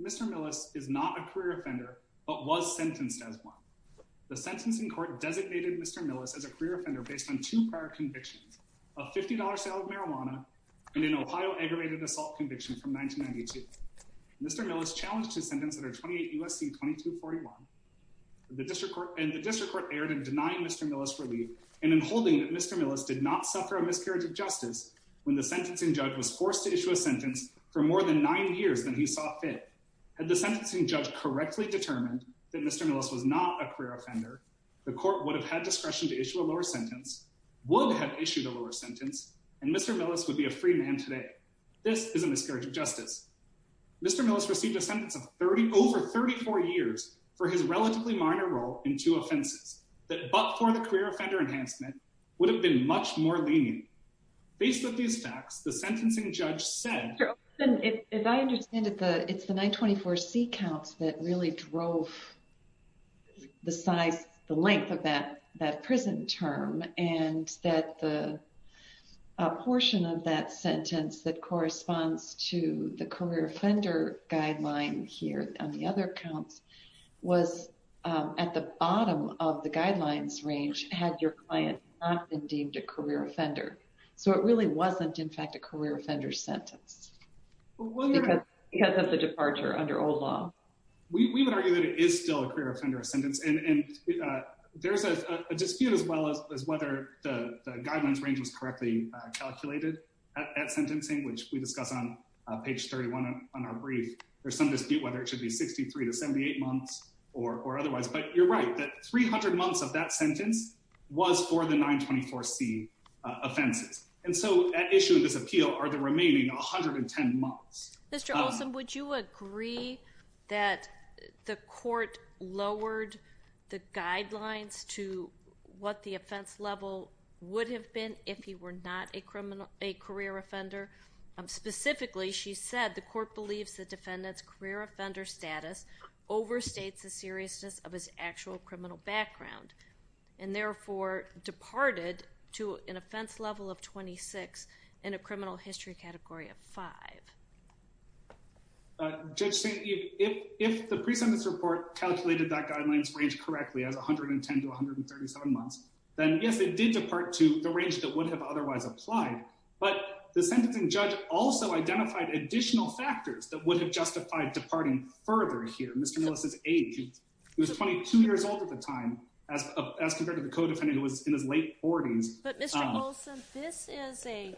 Mr. Millis is not a career offender, but was sentenced as one. The sentencing court designated Mr. Millis as a career offender based on two prior convictions a $50 sale of marijuana, and an Ohio aggravated assault conviction from 1992. Mr. Millis challenged his sentence under 28 U.S.C. 2241, and the district court erred in denying Mr. Millis relief and in holding that Mr. Millis did not suffer a miscarriage of justice when the sentencing judge was forced to issue a sentence for more than nine years than he sought fit. Had the sentencing judge correctly determined that Mr. Millis was not a career offender, the court would have had discretion to issue a lower sentence, would have issued a lower sentence, and Mr. Millis would be a free man today. This is a miscarriage of justice. Mr. Millis received a sentence of over 34 years for his relatively minor role in two offenses that, but for the career offender enhancement, would have been much more lenient. Based on these facts, the sentencing judge said... If I understand it, it's the 924C counts that really drove the size, the length of that prison term, and that the portion of that sentence that corresponds to the career offender guideline here on the other counts was at the bottom of the guidelines range had your offender. So it really wasn't, in fact, a career offender sentence because of the departure under old law. We would argue that it is still a career offender sentence, and there's a dispute as well as whether the guidelines range was correctly calculated at sentencing, which we discuss on page 31 on our brief. There's some dispute whether it should be 63 to 78 months or otherwise, but you're right, that 300 months of that sentence was for the 924C offenses. And so at issue of this appeal are the remaining 110 months. Mr. Olson, would you agree that the court lowered the guidelines to what the offense level would have been if he were not a career offender? Specifically, she said the court believes the defendant's career offender status overstates the seriousness of his actual criminal background, and therefore departed to an offense level of 26 in a criminal history category of 5. Judge St. Eve, if the pre-sentence report calculated that guidelines range correctly as 110 to 137 months, then yes, it did depart to the range that would have otherwise applied. But the sentencing judge also identified additional factors that would have justified departing further here. Mr. Nellis' age, he was 22 years old at the time, as compared to the co-defendant who was in his late 40s. But Mr. Olson, this is a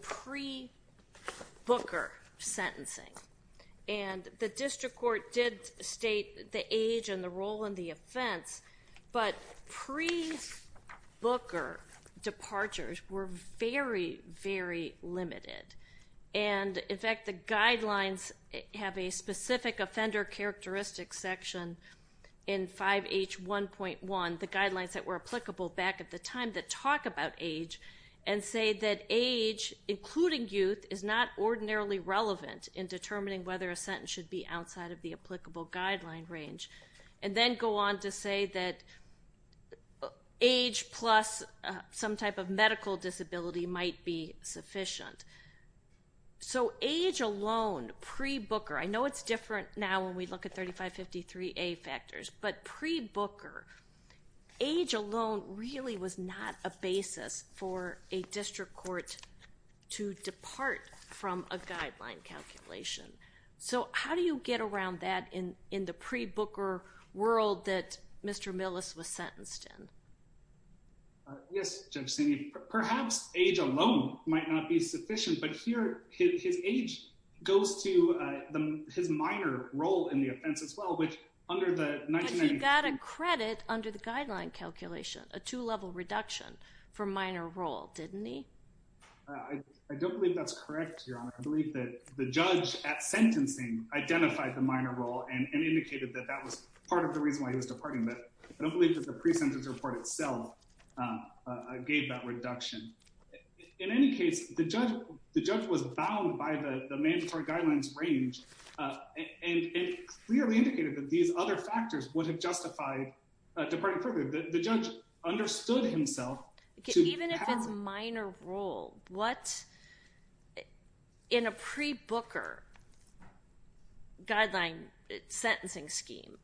pre-Booker sentencing, and the district court did state the age and the role in the offense, but pre-Booker departures were very, very limited. And in fact, the guidelines have a specific offender characteristics section in 5H1.1, the guidelines that were applicable back at the time that talk about age, and say that age, including youth, is not ordinarily relevant in determining whether a sentence should be outside of the applicable guideline range, and then go on to say that age plus some type of medical disability might be sufficient. So age alone, pre-Booker, I know it's different now when we look at 3553A factors, but pre-Booker, age alone really was not a basis for a district court to depart from a guideline calculation. So how do you get around that in the pre-Booker world that Mr. Nellis was sentenced in? Yes, Judge Saney, perhaps age alone might not be sufficient, but here his age goes to his minor role in the offense as well, which under the 1990s- But he got a credit under the guideline calculation, a two-level reduction for minor role, didn't he? I don't believe that's correct, Your Honor. I believe that the judge at sentencing identified the minor role and indicated that that was part of the reason why he was departing, but I don't believe that the pre-sentence report itself gave that reduction. In any case, the judge was bound by the mandatory guidelines range, and it clearly indicated that these other factors would have justified departing further. The judge understood himself to- Even if it's minor role, what, in a pre-Booker guideline sentencing scheme,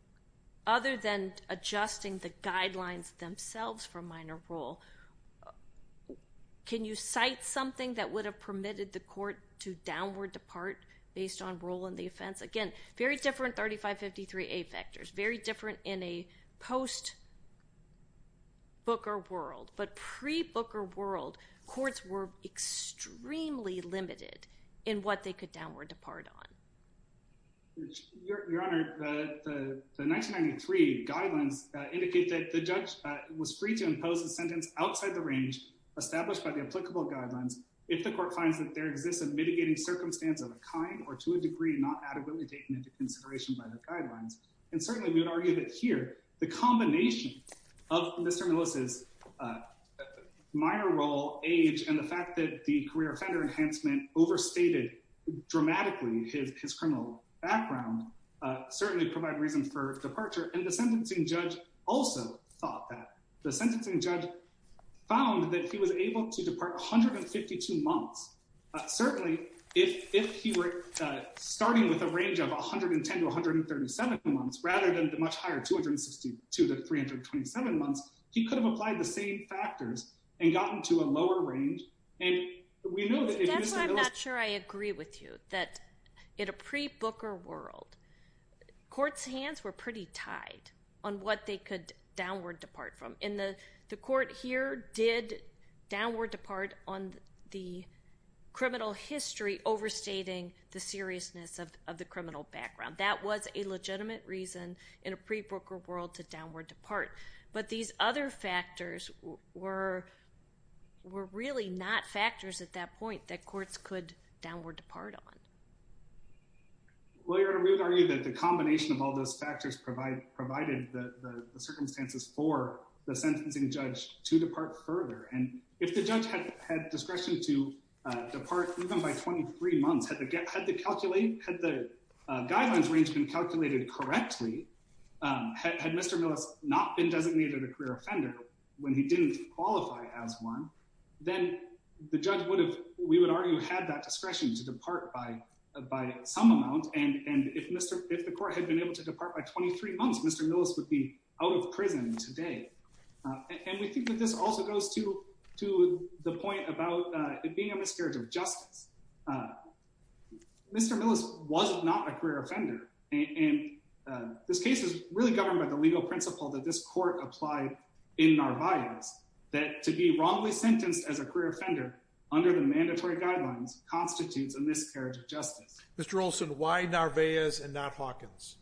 other than adjusting the guidelines themselves for minor role, can you cite something that would have permitted the court to downward depart based on role in the offense? Again, very different 3553A factors, very different in a post-Booker world, but pre-Booker world, courts were extremely limited in what they could downward depart on. Your Honor, the 1993 guidelines indicate that the judge was free to impose a sentence outside the range established by the applicable guidelines if the court finds that there exists a mitigating circumstance of a kind or to a degree not adequately taken into consideration by the guidelines. And certainly, we would argue that here, the combination of Mr. Melissa's minor role, age, and the fact that the career offender enhancement overstated dramatically his criminal background certainly provide reason for departure. And the sentencing judge also thought that. The sentencing judge found that he was able to depart 152 months. Certainly, if he were starting with a range of 110 to 137 months, rather than the much higher 262 to 327 months, he could have applied the same factors and gotten to a lower range. And we know that if Mr. Melissa— That's why I'm not sure I agree with you, that in a pre-Booker world, courts' hands were pretty tied on what they could downward depart from. And the court here did downward depart on the criminal history overstating the seriousness of the criminal background. That was a legitimate reason in a pre-Booker world to downward depart. But these other factors were really not factors at that point that courts could downward depart on. Well, Your Honor, we would argue that the combination of all those factors provided the circumstances for the sentencing judge to depart further. And if the judge had discretion to depart even by 23 months, had the guidelines range been calculated correctly, had Mr. Melissa not been designated a career offender when he didn't qualify as one, then the judge would have, we would argue, had that discretion to depart by some amount. And if the court had been able to depart by 23 months, Mr. Melissa would be out of prison today. And we think that this also goes to the point about it being a miscarriage of justice. Mr. Melissa was not a career offender. And this case is really governed by the legal principle that this court applied in Narvaez, that to be wrongly sentenced as a career offender under the mandatory guidelines constitutes a miscarriage of justice. Mr. Olson, why Narvaez and not Hawkins?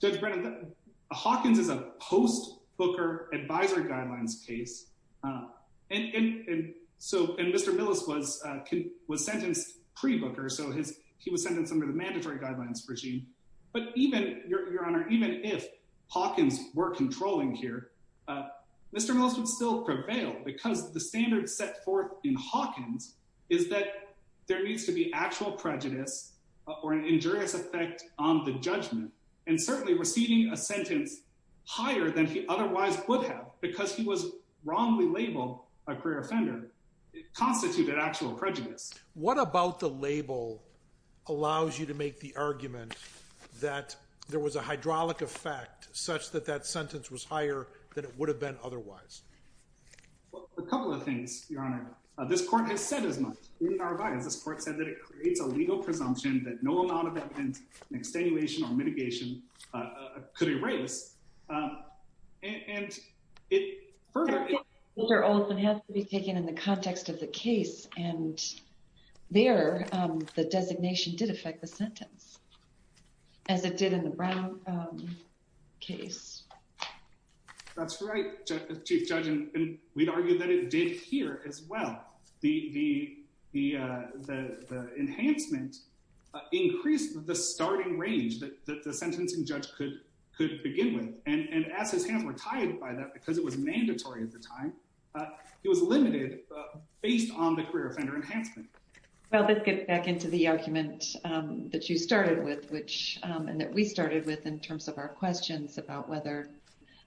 Judge Brennan, Hawkins is a post-Booker advisor guidelines case. And Mr. Melissa was sentenced pre-Booker. So he was sentenced under the mandatory guidelines regime. But even, Your Honor, even if Hawkins were controlling here, Mr. Melissa would still prevail because the standard set forth in Hawkins is that there needs to be actual prejudice or an injurious effect on the judgment. And certainly, receiving a sentence higher than he otherwise would have because he was wrongly labeled a career offender constituted actual prejudice. What about the label allows you to make the argument that there was a hydraulic effect such that that sentence was higher than it would have been otherwise? A couple of things, Your Honor. This court has said as much in Narvaez. This court said that it creates a legal presumption that no amount of evidence, an extenuation or mitigation could erase. And it further... Dr. Oliphant has to be taken in the context of the case. And there, the designation did affect the sentence as it did in the Brown case. That's right, Chief Judge. And we'd argue that it did here as well. The enhancement increased the starting range that the sentencing judge could begin with. And as his hands were tied by that, because it was mandatory at the time, it was limited based on the career offender enhancement. Well, let's get back into the argument that you started with, and that we started with in terms of our questions about whether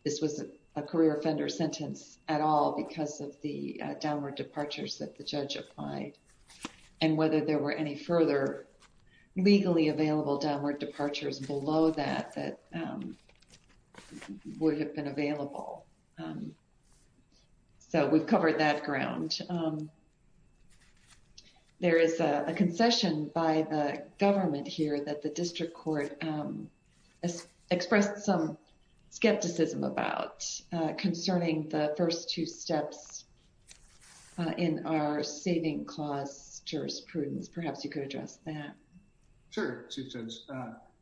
this was a career offender sentence at all because of the downward departures that the judge applied. And whether there were any further legally available downward departures below that would have been available. So we've covered that ground. There is a concession by the government here that the district court expressed some skepticism about concerning the first two steps in our saving clause jurisprudence. Perhaps you could address that. Sure, Chief Judge.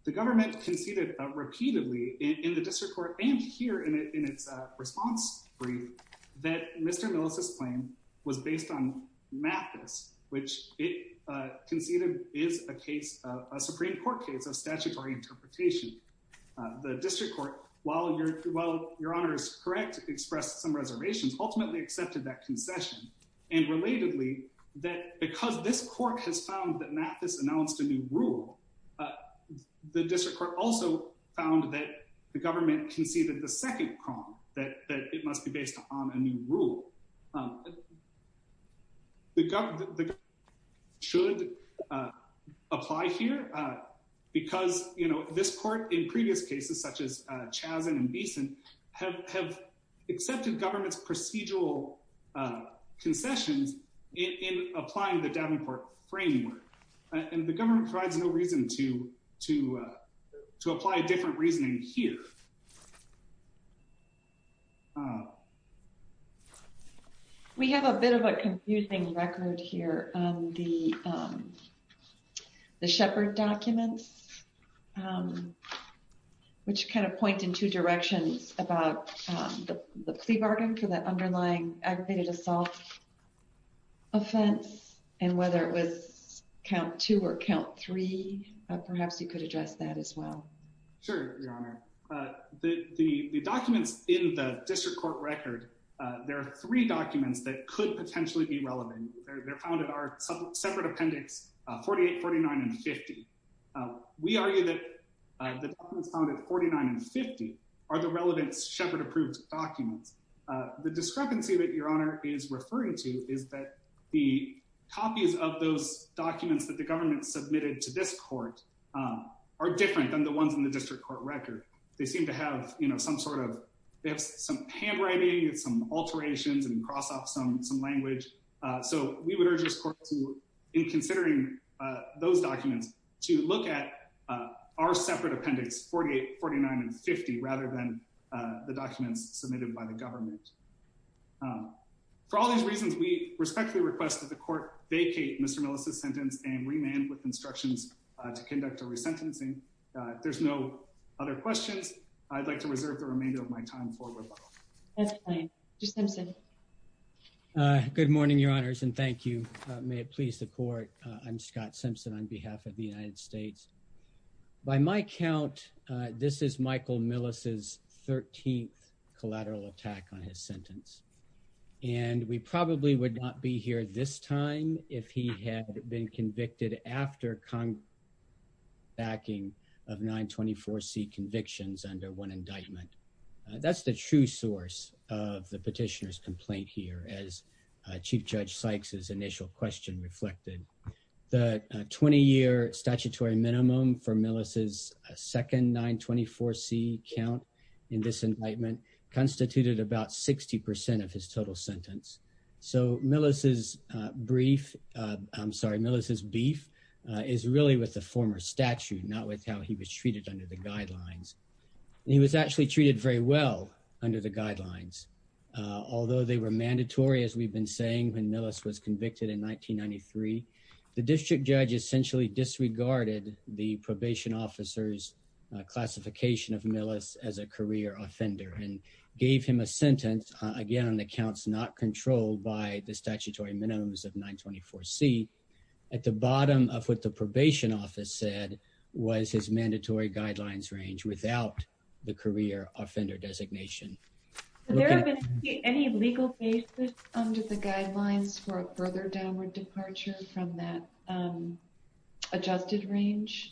The government conceded repeatedly in the district court and here in its response brief that Mr. Millicent's claim was based on Mathis, which it conceded is a Supreme Court case of statutory interpretation. The district court, while your honor is correct, expressed some reservations, ultimately accepted that concession. And relatedly, because this court has found that Mathis announced a new rule, the district court also found that the government conceded the second con, that it must be based on a new rule. The government should apply here because, you know, this court in previous cases, such as Chazen and Beeson, have accepted government's procedural concessions in applying the Davenport framework. And the government provides no reason to apply a different reasoning here. We have a bit of a confusing record here on the Shepard documents, which kind of point in two directions about the plea bargain for the underlying aggravated assault offense and whether it was count two or count three. Perhaps you could address that as well. Sure, your honor. The documents in the district court record, there are three documents that could potentially be relevant. They're found in our separate appendix 48, 49, and 50. We argue that the documents found at 49 and 50 are the relevant Shepard approved documents. The discrepancy that your honor is referring to is that the copies of those documents that the government submitted to this court are different than the ones in the district court record. They seem to have, you know, some sort of, they have some handwriting and some alterations and cross off some language. So we would urge this court to, in considering those documents, to look at our separate appendix, 48, 49, and 50, rather than the documents submitted by the government. For all these reasons, we respectfully request that the court vacate Mr. Millicent's sentence and remand with instructions to conduct a resentencing. There's no other questions. I'd like to reserve the remainder of my time for rebuttal. That's fine. Mr. Simpson. Good morning, your honors, and thank you. May it please the court. I'm Scott Simpson on behalf of the United States. By my count, this is Michael Millicent's 13th collateral attack on his sentence. And we probably would not be here this time if he had been convicted after backing of 924 C convictions under one indictment. That's the true source of the petitioner's complaint here. As Chief Judge Sykes' initial question reflected, the 20 year statutory minimum for Millicent's second 924 C count in this indictment constituted about 60% of his total sentence. So Millicent's brief, I'm sorry, Millicent's beef is really with the former statute, not with how he was treated under the guidelines. He was actually treated very well under the guidelines, although they were mandatory, as we've been saying, when Millicent was convicted in 1993. The district judge essentially disregarded the probation officer's classification of Millicent as a career offender and gave him a sentence, again, on the counts not controlled by the statutory minimums of 924 C. At the bottom of what the probation office said was his mandatory guidelines range without the career offender designation. Has there been any legal basis under the guidelines for a further downward departure from that adjusted range?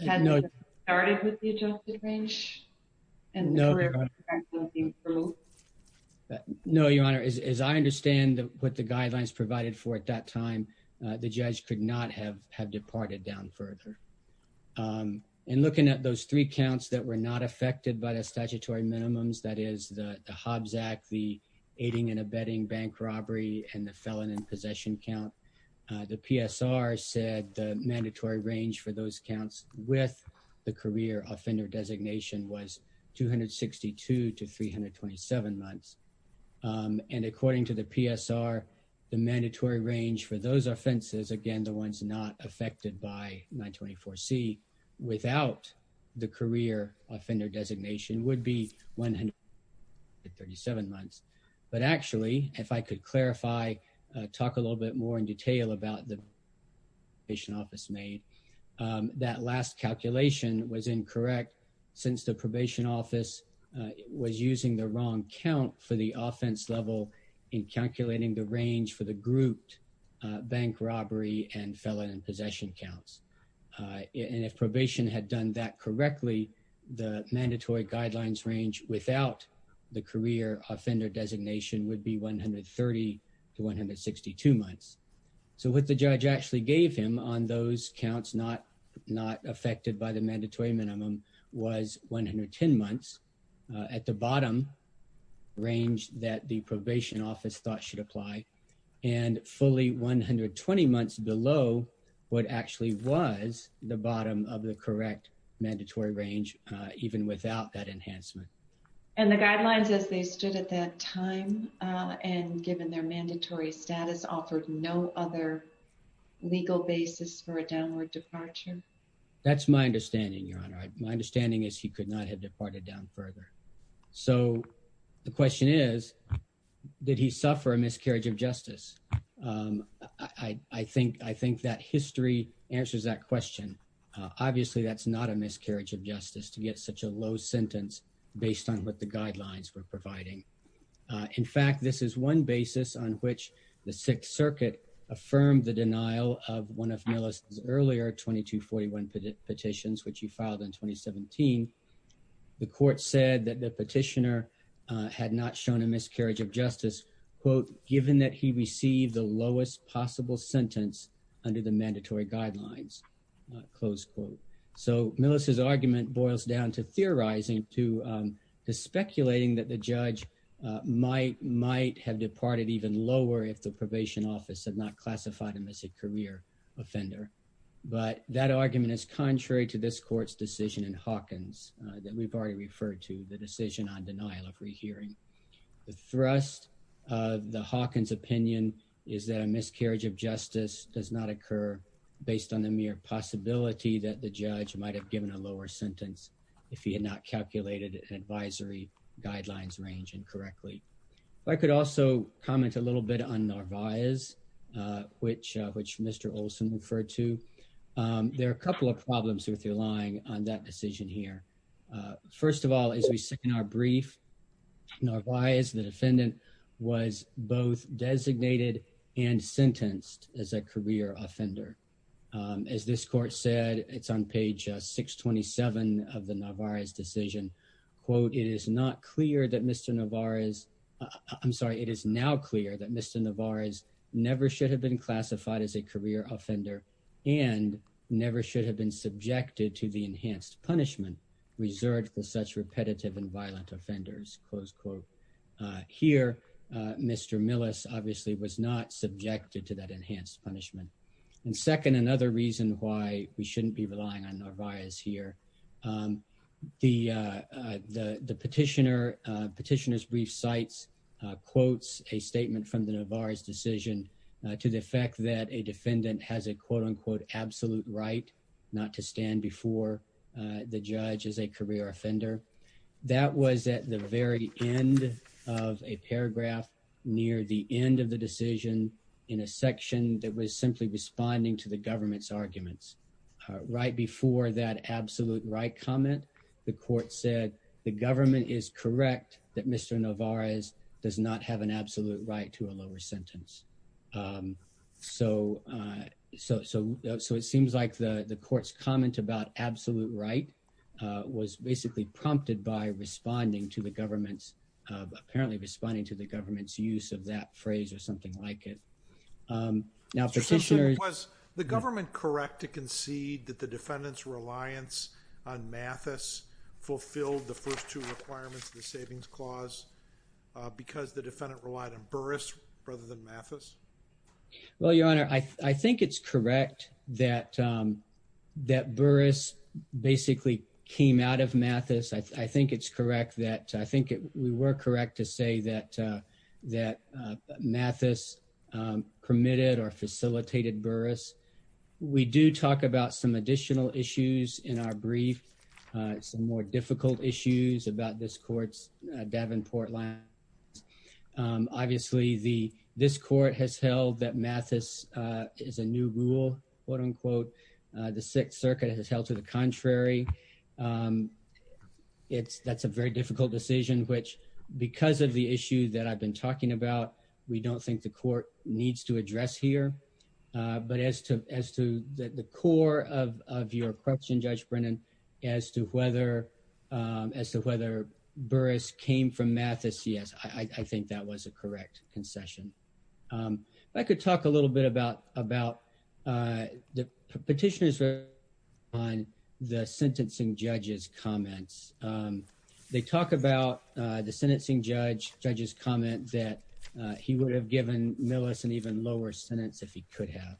No, Your Honor. As I understand what the guidelines provided for at that time, the judge could not have departed down further. In looking at those three counts that were not affected by the statutory minimums, the Hobbs Act, the aiding and abetting bank robbery, and the felon in possession count, the PSR said the mandatory range for those counts with the career offender designation was 262 to 327 months. According to the PSR, the mandatory range for those offenses, again, the ones not affected by 924 C, without the career offender designation would be 137 months. But actually, if I could clarify, talk a little bit more in detail about the probation office made, that last calculation was incorrect since the probation office was using the wrong count for the offense level in calculating the range for the grouped bank robbery and felon in possession counts. And if probation had done that correctly, the mandatory guidelines range without the career offender designation would be 130 to 162 months. So what the judge actually gave him on those counts not affected by the mandatory minimum was 110 months at the bottom range that the probation office thought should apply. And fully 120 months below what actually was the bottom of the correct mandatory range, even without that enhancement. And the guidelines as they stood at that time, and given their mandatory status, offered no other legal basis for a downward departure. That's my understanding, Your Honor. My understanding is he could not have departed down further. So the question is, did he suffer a miscarriage of justice? I think that history answers that question. Obviously, that's not a miscarriage of justice to get such a low sentence based on what the guidelines were providing. In fact, this is one basis on which the Sixth Circuit affirmed the denial of one of Miller's earlier 2241 petitions, which he filed in 2017. The court said that the petitioner had not shown a miscarriage of justice, quote, given that he received the lowest possible sentence under the mandatory guidelines, close quote. So Miller's argument boils down to theorizing, to speculating that the judge might have departed even lower if the probation office had not classified him as a career offender. But that argument is contrary to this court's decision in Hawkins that we've already referred to, the decision on denial of rehearing. The thrust of the Hawkins opinion is that a miscarriage of justice does not occur based on the mere possibility that the judge might have given a lower sentence if he had not calculated an advisory guidelines range incorrectly. I could also comment a little bit on Narvaez, which Mr. Olson referred to. There are a couple of problems with relying on that decision here. First of all, as we said in our brief, Narvaez, the defendant, was both designated and sentenced as a career offender. As this court said, it's on page 627 of the Narvaez decision, quote, it is not clear that Mr. Narvaez, I'm sorry, it is now clear that Mr. Narvaez never should have been classified as a career offender and never should have been subjected to the enhanced punishment reserved for such repetitive and violent offenders, close quote. Here, Mr. Millis obviously was not subjected to that enhanced punishment. And second, another reason why we shouldn't be relying on Narvaez here, the petitioner's brief cites quotes a statement from the Narvaez decision to the effect that a defendant has a quote unquote absolute right not to stand before the judge as a career offender. That was at the very end of a paragraph near the end of the decision in a section that was simply responding to the government's arguments. Right before that absolute right comment, the court said the government is correct that Mr. Narvaez does not have an absolute right to a lower sentence. So it seems like the court's comment about absolute right was basically prompted by responding to the government's, apparently responding to the government's use of that phrase or something like it. Now, petitioner was the government correct to concede that the defendant's reliance on Mathis fulfilled the first two requirements of the savings clause because the defendant relied on Burris rather than Mathis? Well, your honor, I think it's correct that that Burris basically came out of Mathis. I think it's correct that I think we were correct to say that that Mathis permitted or facilitated Burris. We do talk about some additional issues in our brief, some more difficult issues about this court's Davenport land. Obviously, this court has held that Mathis is a new rule, quote unquote. The Sixth Circuit has held to the contrary. That's a very difficult decision, which because of the issue that I've been talking about, we don't think the court needs to address here. But as to the core of your question, Judge Brennan, as to whether Burris came from Mathis, yes, I think that was a correct concession. I could talk a little bit about the petitioners on the sentencing judge's comments. They talk about the sentencing judge, judge's comment that he would have given Millis an even lower sentence if he could have.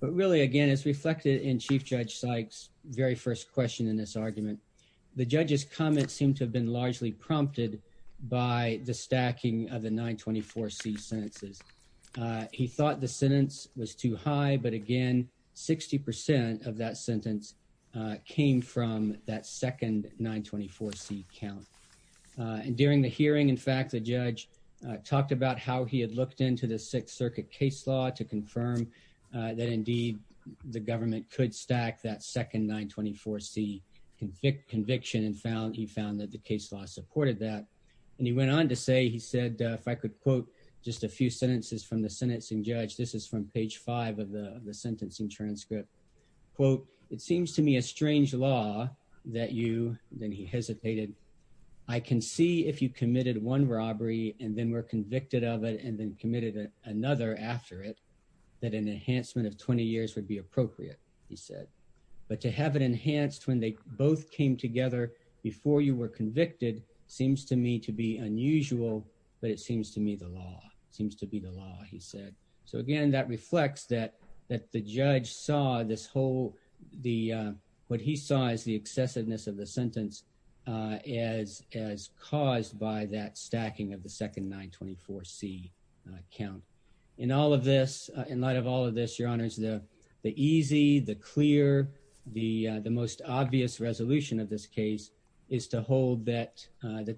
But really, again, as reflected in Chief Judge Sykes' very first question in this argument, the judge's comments seem to have been largely prompted by the stacking of the 924C sentences. He thought the sentence was too high, but again, 60% of that sentence came from that second 924C count. During the hearing, in fact, the judge talked about how he had looked into the Sixth Circuit case law to confirm that indeed the government could stack that second 924C conviction, and he found that the case law supported that. And he went on to say, he said, if I could quote just a few sentences from the sentencing judge, this is from page five of the sentencing transcript, quote, it seems to me a strange law that you, then he hesitated, I can see if you committed one robbery and then were convicted of it and then committed another after it, that an enhancement of 20 years would be appropriate, he said. But to have it enhanced when they both came together before you were convicted seems to me to be unusual, but it seems to me the law, seems to be the law, he said. So again, that reflects that the judge saw this whole, what he saw as the excessiveness of the sentence as caused by that stacking of the second 924C count. In all of this, in light of all of this, Your Honors, the easy, the clear, the most obvious resolution of this case is to hold that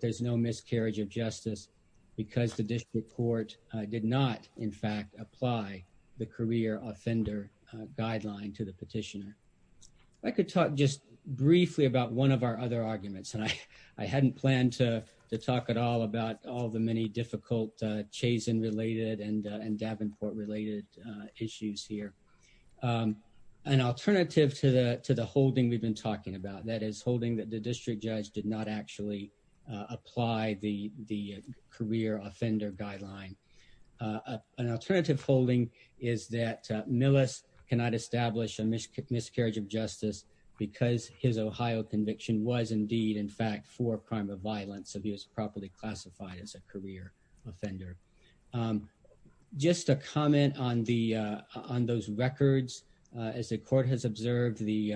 there's no miscarriage of justice because the district court did not, in fact, apply the career offender guideline to the petitioner. If I could talk just briefly about one of our other arguments, and I hadn't planned to talk at all about all the many difficult Chazen-related and Davenport-related issues here. An alternative to the holding we've been talking about, that is holding that the district judge did not actually apply the career offender guideline. An alternative holding is that Millis cannot establish a miscarriage of justice because his Ohio conviction was indeed, in fact, for a crime of violence, so he was properly classified as a career offender. Just a comment on those records. As the court has observed, the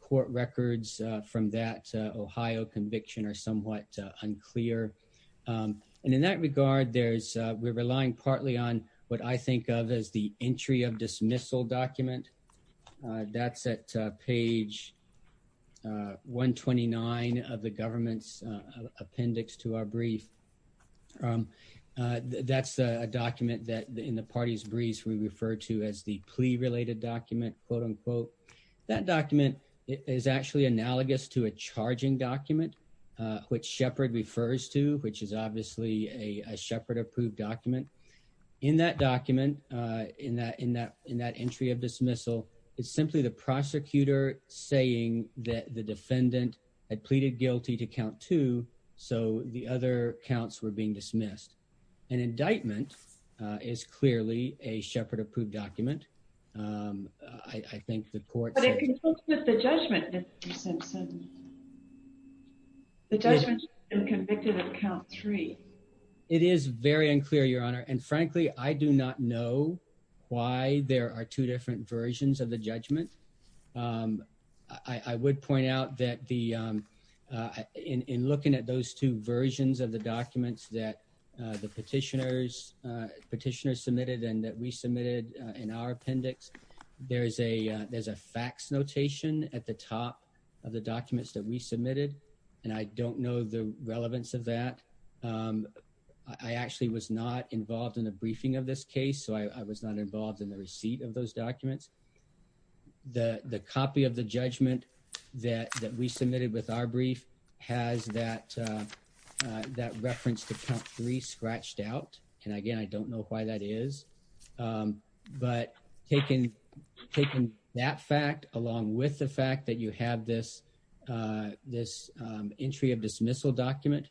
court records from that Ohio conviction are somewhat unclear. And in that regard, we're relying partly on what I think of as the entry of dismissal document. That's at page 129 of the government's appendix to our brief. That's a document that in the party's briefs we refer to as the plea-related document, quote-unquote. That document is actually analogous to a charging document, which Shepard refers to, which is obviously a Shepard-approved document. In that document, in that entry of dismissal, it's simply the prosecutor saying that the defendant had pleaded guilty to count two, so the other counts were being dismissed. An indictment is clearly a Shepard-approved document. I think the court said— But it concludes with the judgment, Mr. Simpson. The judgment is convicted of count three. It is very unclear, Your Honor. And frankly, I do not know why there are two different versions of the judgment. I would point out that in looking at those two versions of the documents that the petitioners submitted and that we submitted in our appendix, there's a fax notation at the top of the documents that we submitted, and I don't know the relevance of that. I actually was not involved in the briefing of this case, so I was not involved in the copy of the judgment that we submitted with our brief has that reference to count three scratched out, and again, I don't know why that is. But taking that fact along with the fact that you have this entry of dismissal document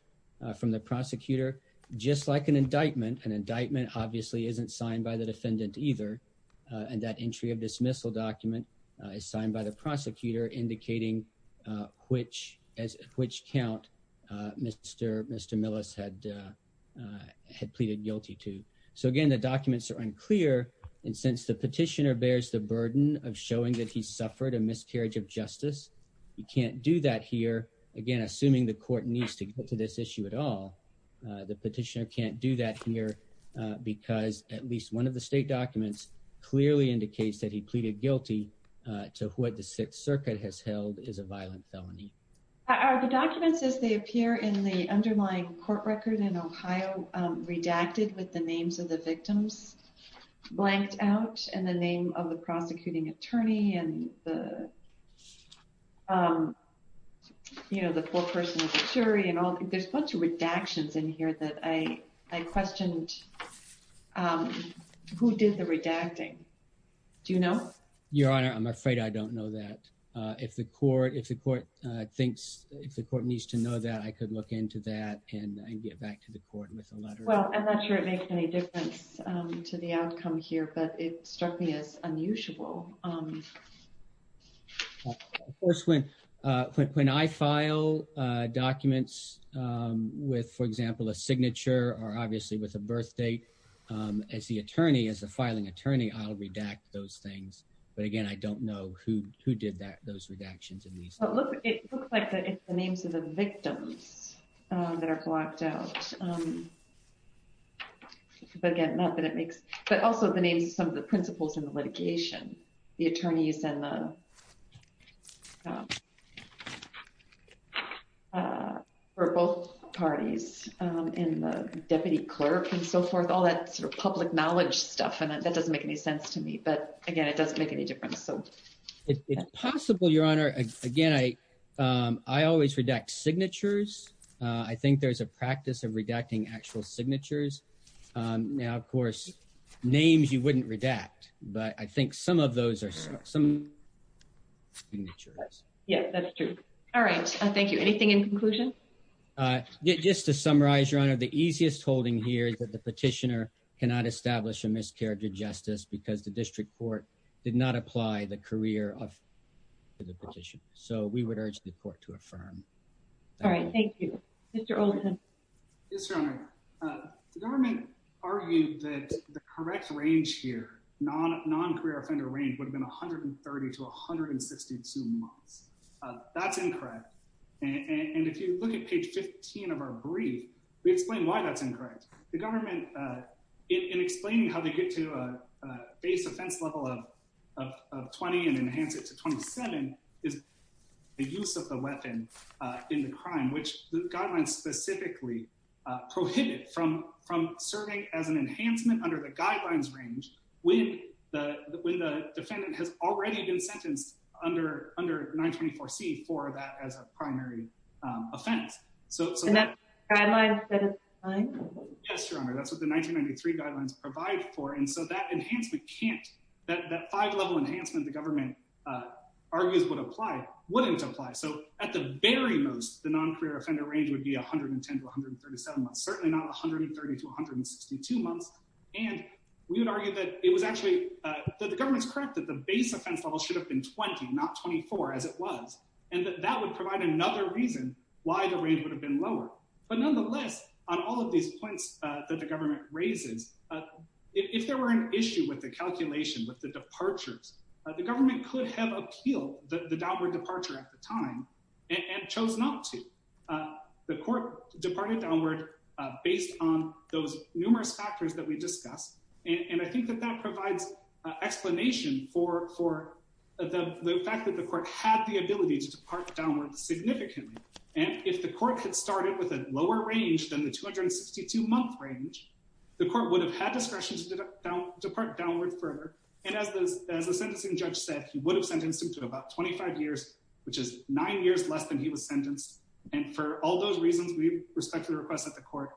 from the prosecutor, just like an indictment, an indictment obviously isn't signed by the defendant either, and that entry of dismissal document is signed by the prosecutor indicating which count Mr. Millis had pleaded guilty to. So again, the documents are unclear, and since the petitioner bears the burden of showing that he suffered a miscarriage of justice, he can't do that here. Again, assuming the court needs to get to this issue at all, the petitioner can't do that here because at least one of the state to what the Sixth Circuit has held is a violent felony. Are the documents as they appear in the underlying court record in Ohio redacted with the names of the victims blanked out, and the name of the prosecuting attorney, and the you know, the full person of the jury, and all there's a bunch of redactions in here that I honor, I'm afraid I don't know that. If the court needs to know that, I could look into that and get back to the court with a letter. Well, I'm not sure it makes any difference to the outcome here, but it struck me as unusual. Of course, when I file documents with, for example, a signature or obviously with a birth date, as the attorney, as the filing attorney, I'll redact those things. But again, I don't know who did that, those redactions in these. It looks like it's the names of the victims that are blocked out. But again, not that it makes, but also the names of some of the all that sort of public knowledge stuff. And that doesn't make any sense to me. But again, it doesn't make any difference. So it's possible, Your Honor. Again, I always redact signatures. I think there's a practice of redacting actual signatures. Now, of course, names you wouldn't redact. But I think some of those are some signatures. Yes, that's true. All right. Thank you. Anything in conclusion? Just to summarize, Your Honor, the easiest holding here is that the petitioner cannot establish a miscarriage of justice because the district court did not apply the career of the petition. So we would urge the court to affirm. All right. Thank you. Mr. Oldham. Yes, Your Honor. The government argued that the correct range here, non-career offender range, would have been 130 to 162 months. That's incorrect. And if you look at page 15 of our brief, we explain why that's incorrect. The government, in explaining how they get to a base offense level of 20 and enhance it to 27, is the use of the weapon in the crime, which the guidelines specifically prohibited from serving as an enhancement under the guidelines range when the defendant has already been sentenced under 924C for that as a primary offense. So that's what the 1993 guidelines provide for. And so that enhancement can't, that five-level enhancement the government argues would apply, wouldn't apply. So at the very most, the non-career offender range would be 110 to 137 months, certainly not 130 to 162 months. And we would argue that it was actually, that the government's correct that the base offense level should have been 20, not 24, as it was. And that that would provide another reason why the range would have been lower. But nonetheless, on all of these points that the government raises, if there were an issue with the calculation, with the departures, the government could have appealed the downward departure at the time and chose not to. The court departed downward based on those numerous factors that we discussed. And I think that that provides explanation for the fact that the court had the ability to depart downward significantly. And if the court had started with a lower range than the 262-month range, the court would have had discretion to depart downward further. And as the sentencing judge said, he would have sentenced him to about 25 years, which is nine years less than he was sentenced. And for all those reasons, we respectfully request that the court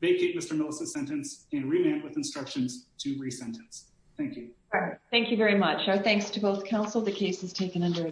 vacate Mr. Millicent's sentence and remand with instructions to re-sentence. Thank you. Thank you very much. Our thanks to both counsel. The case is taken under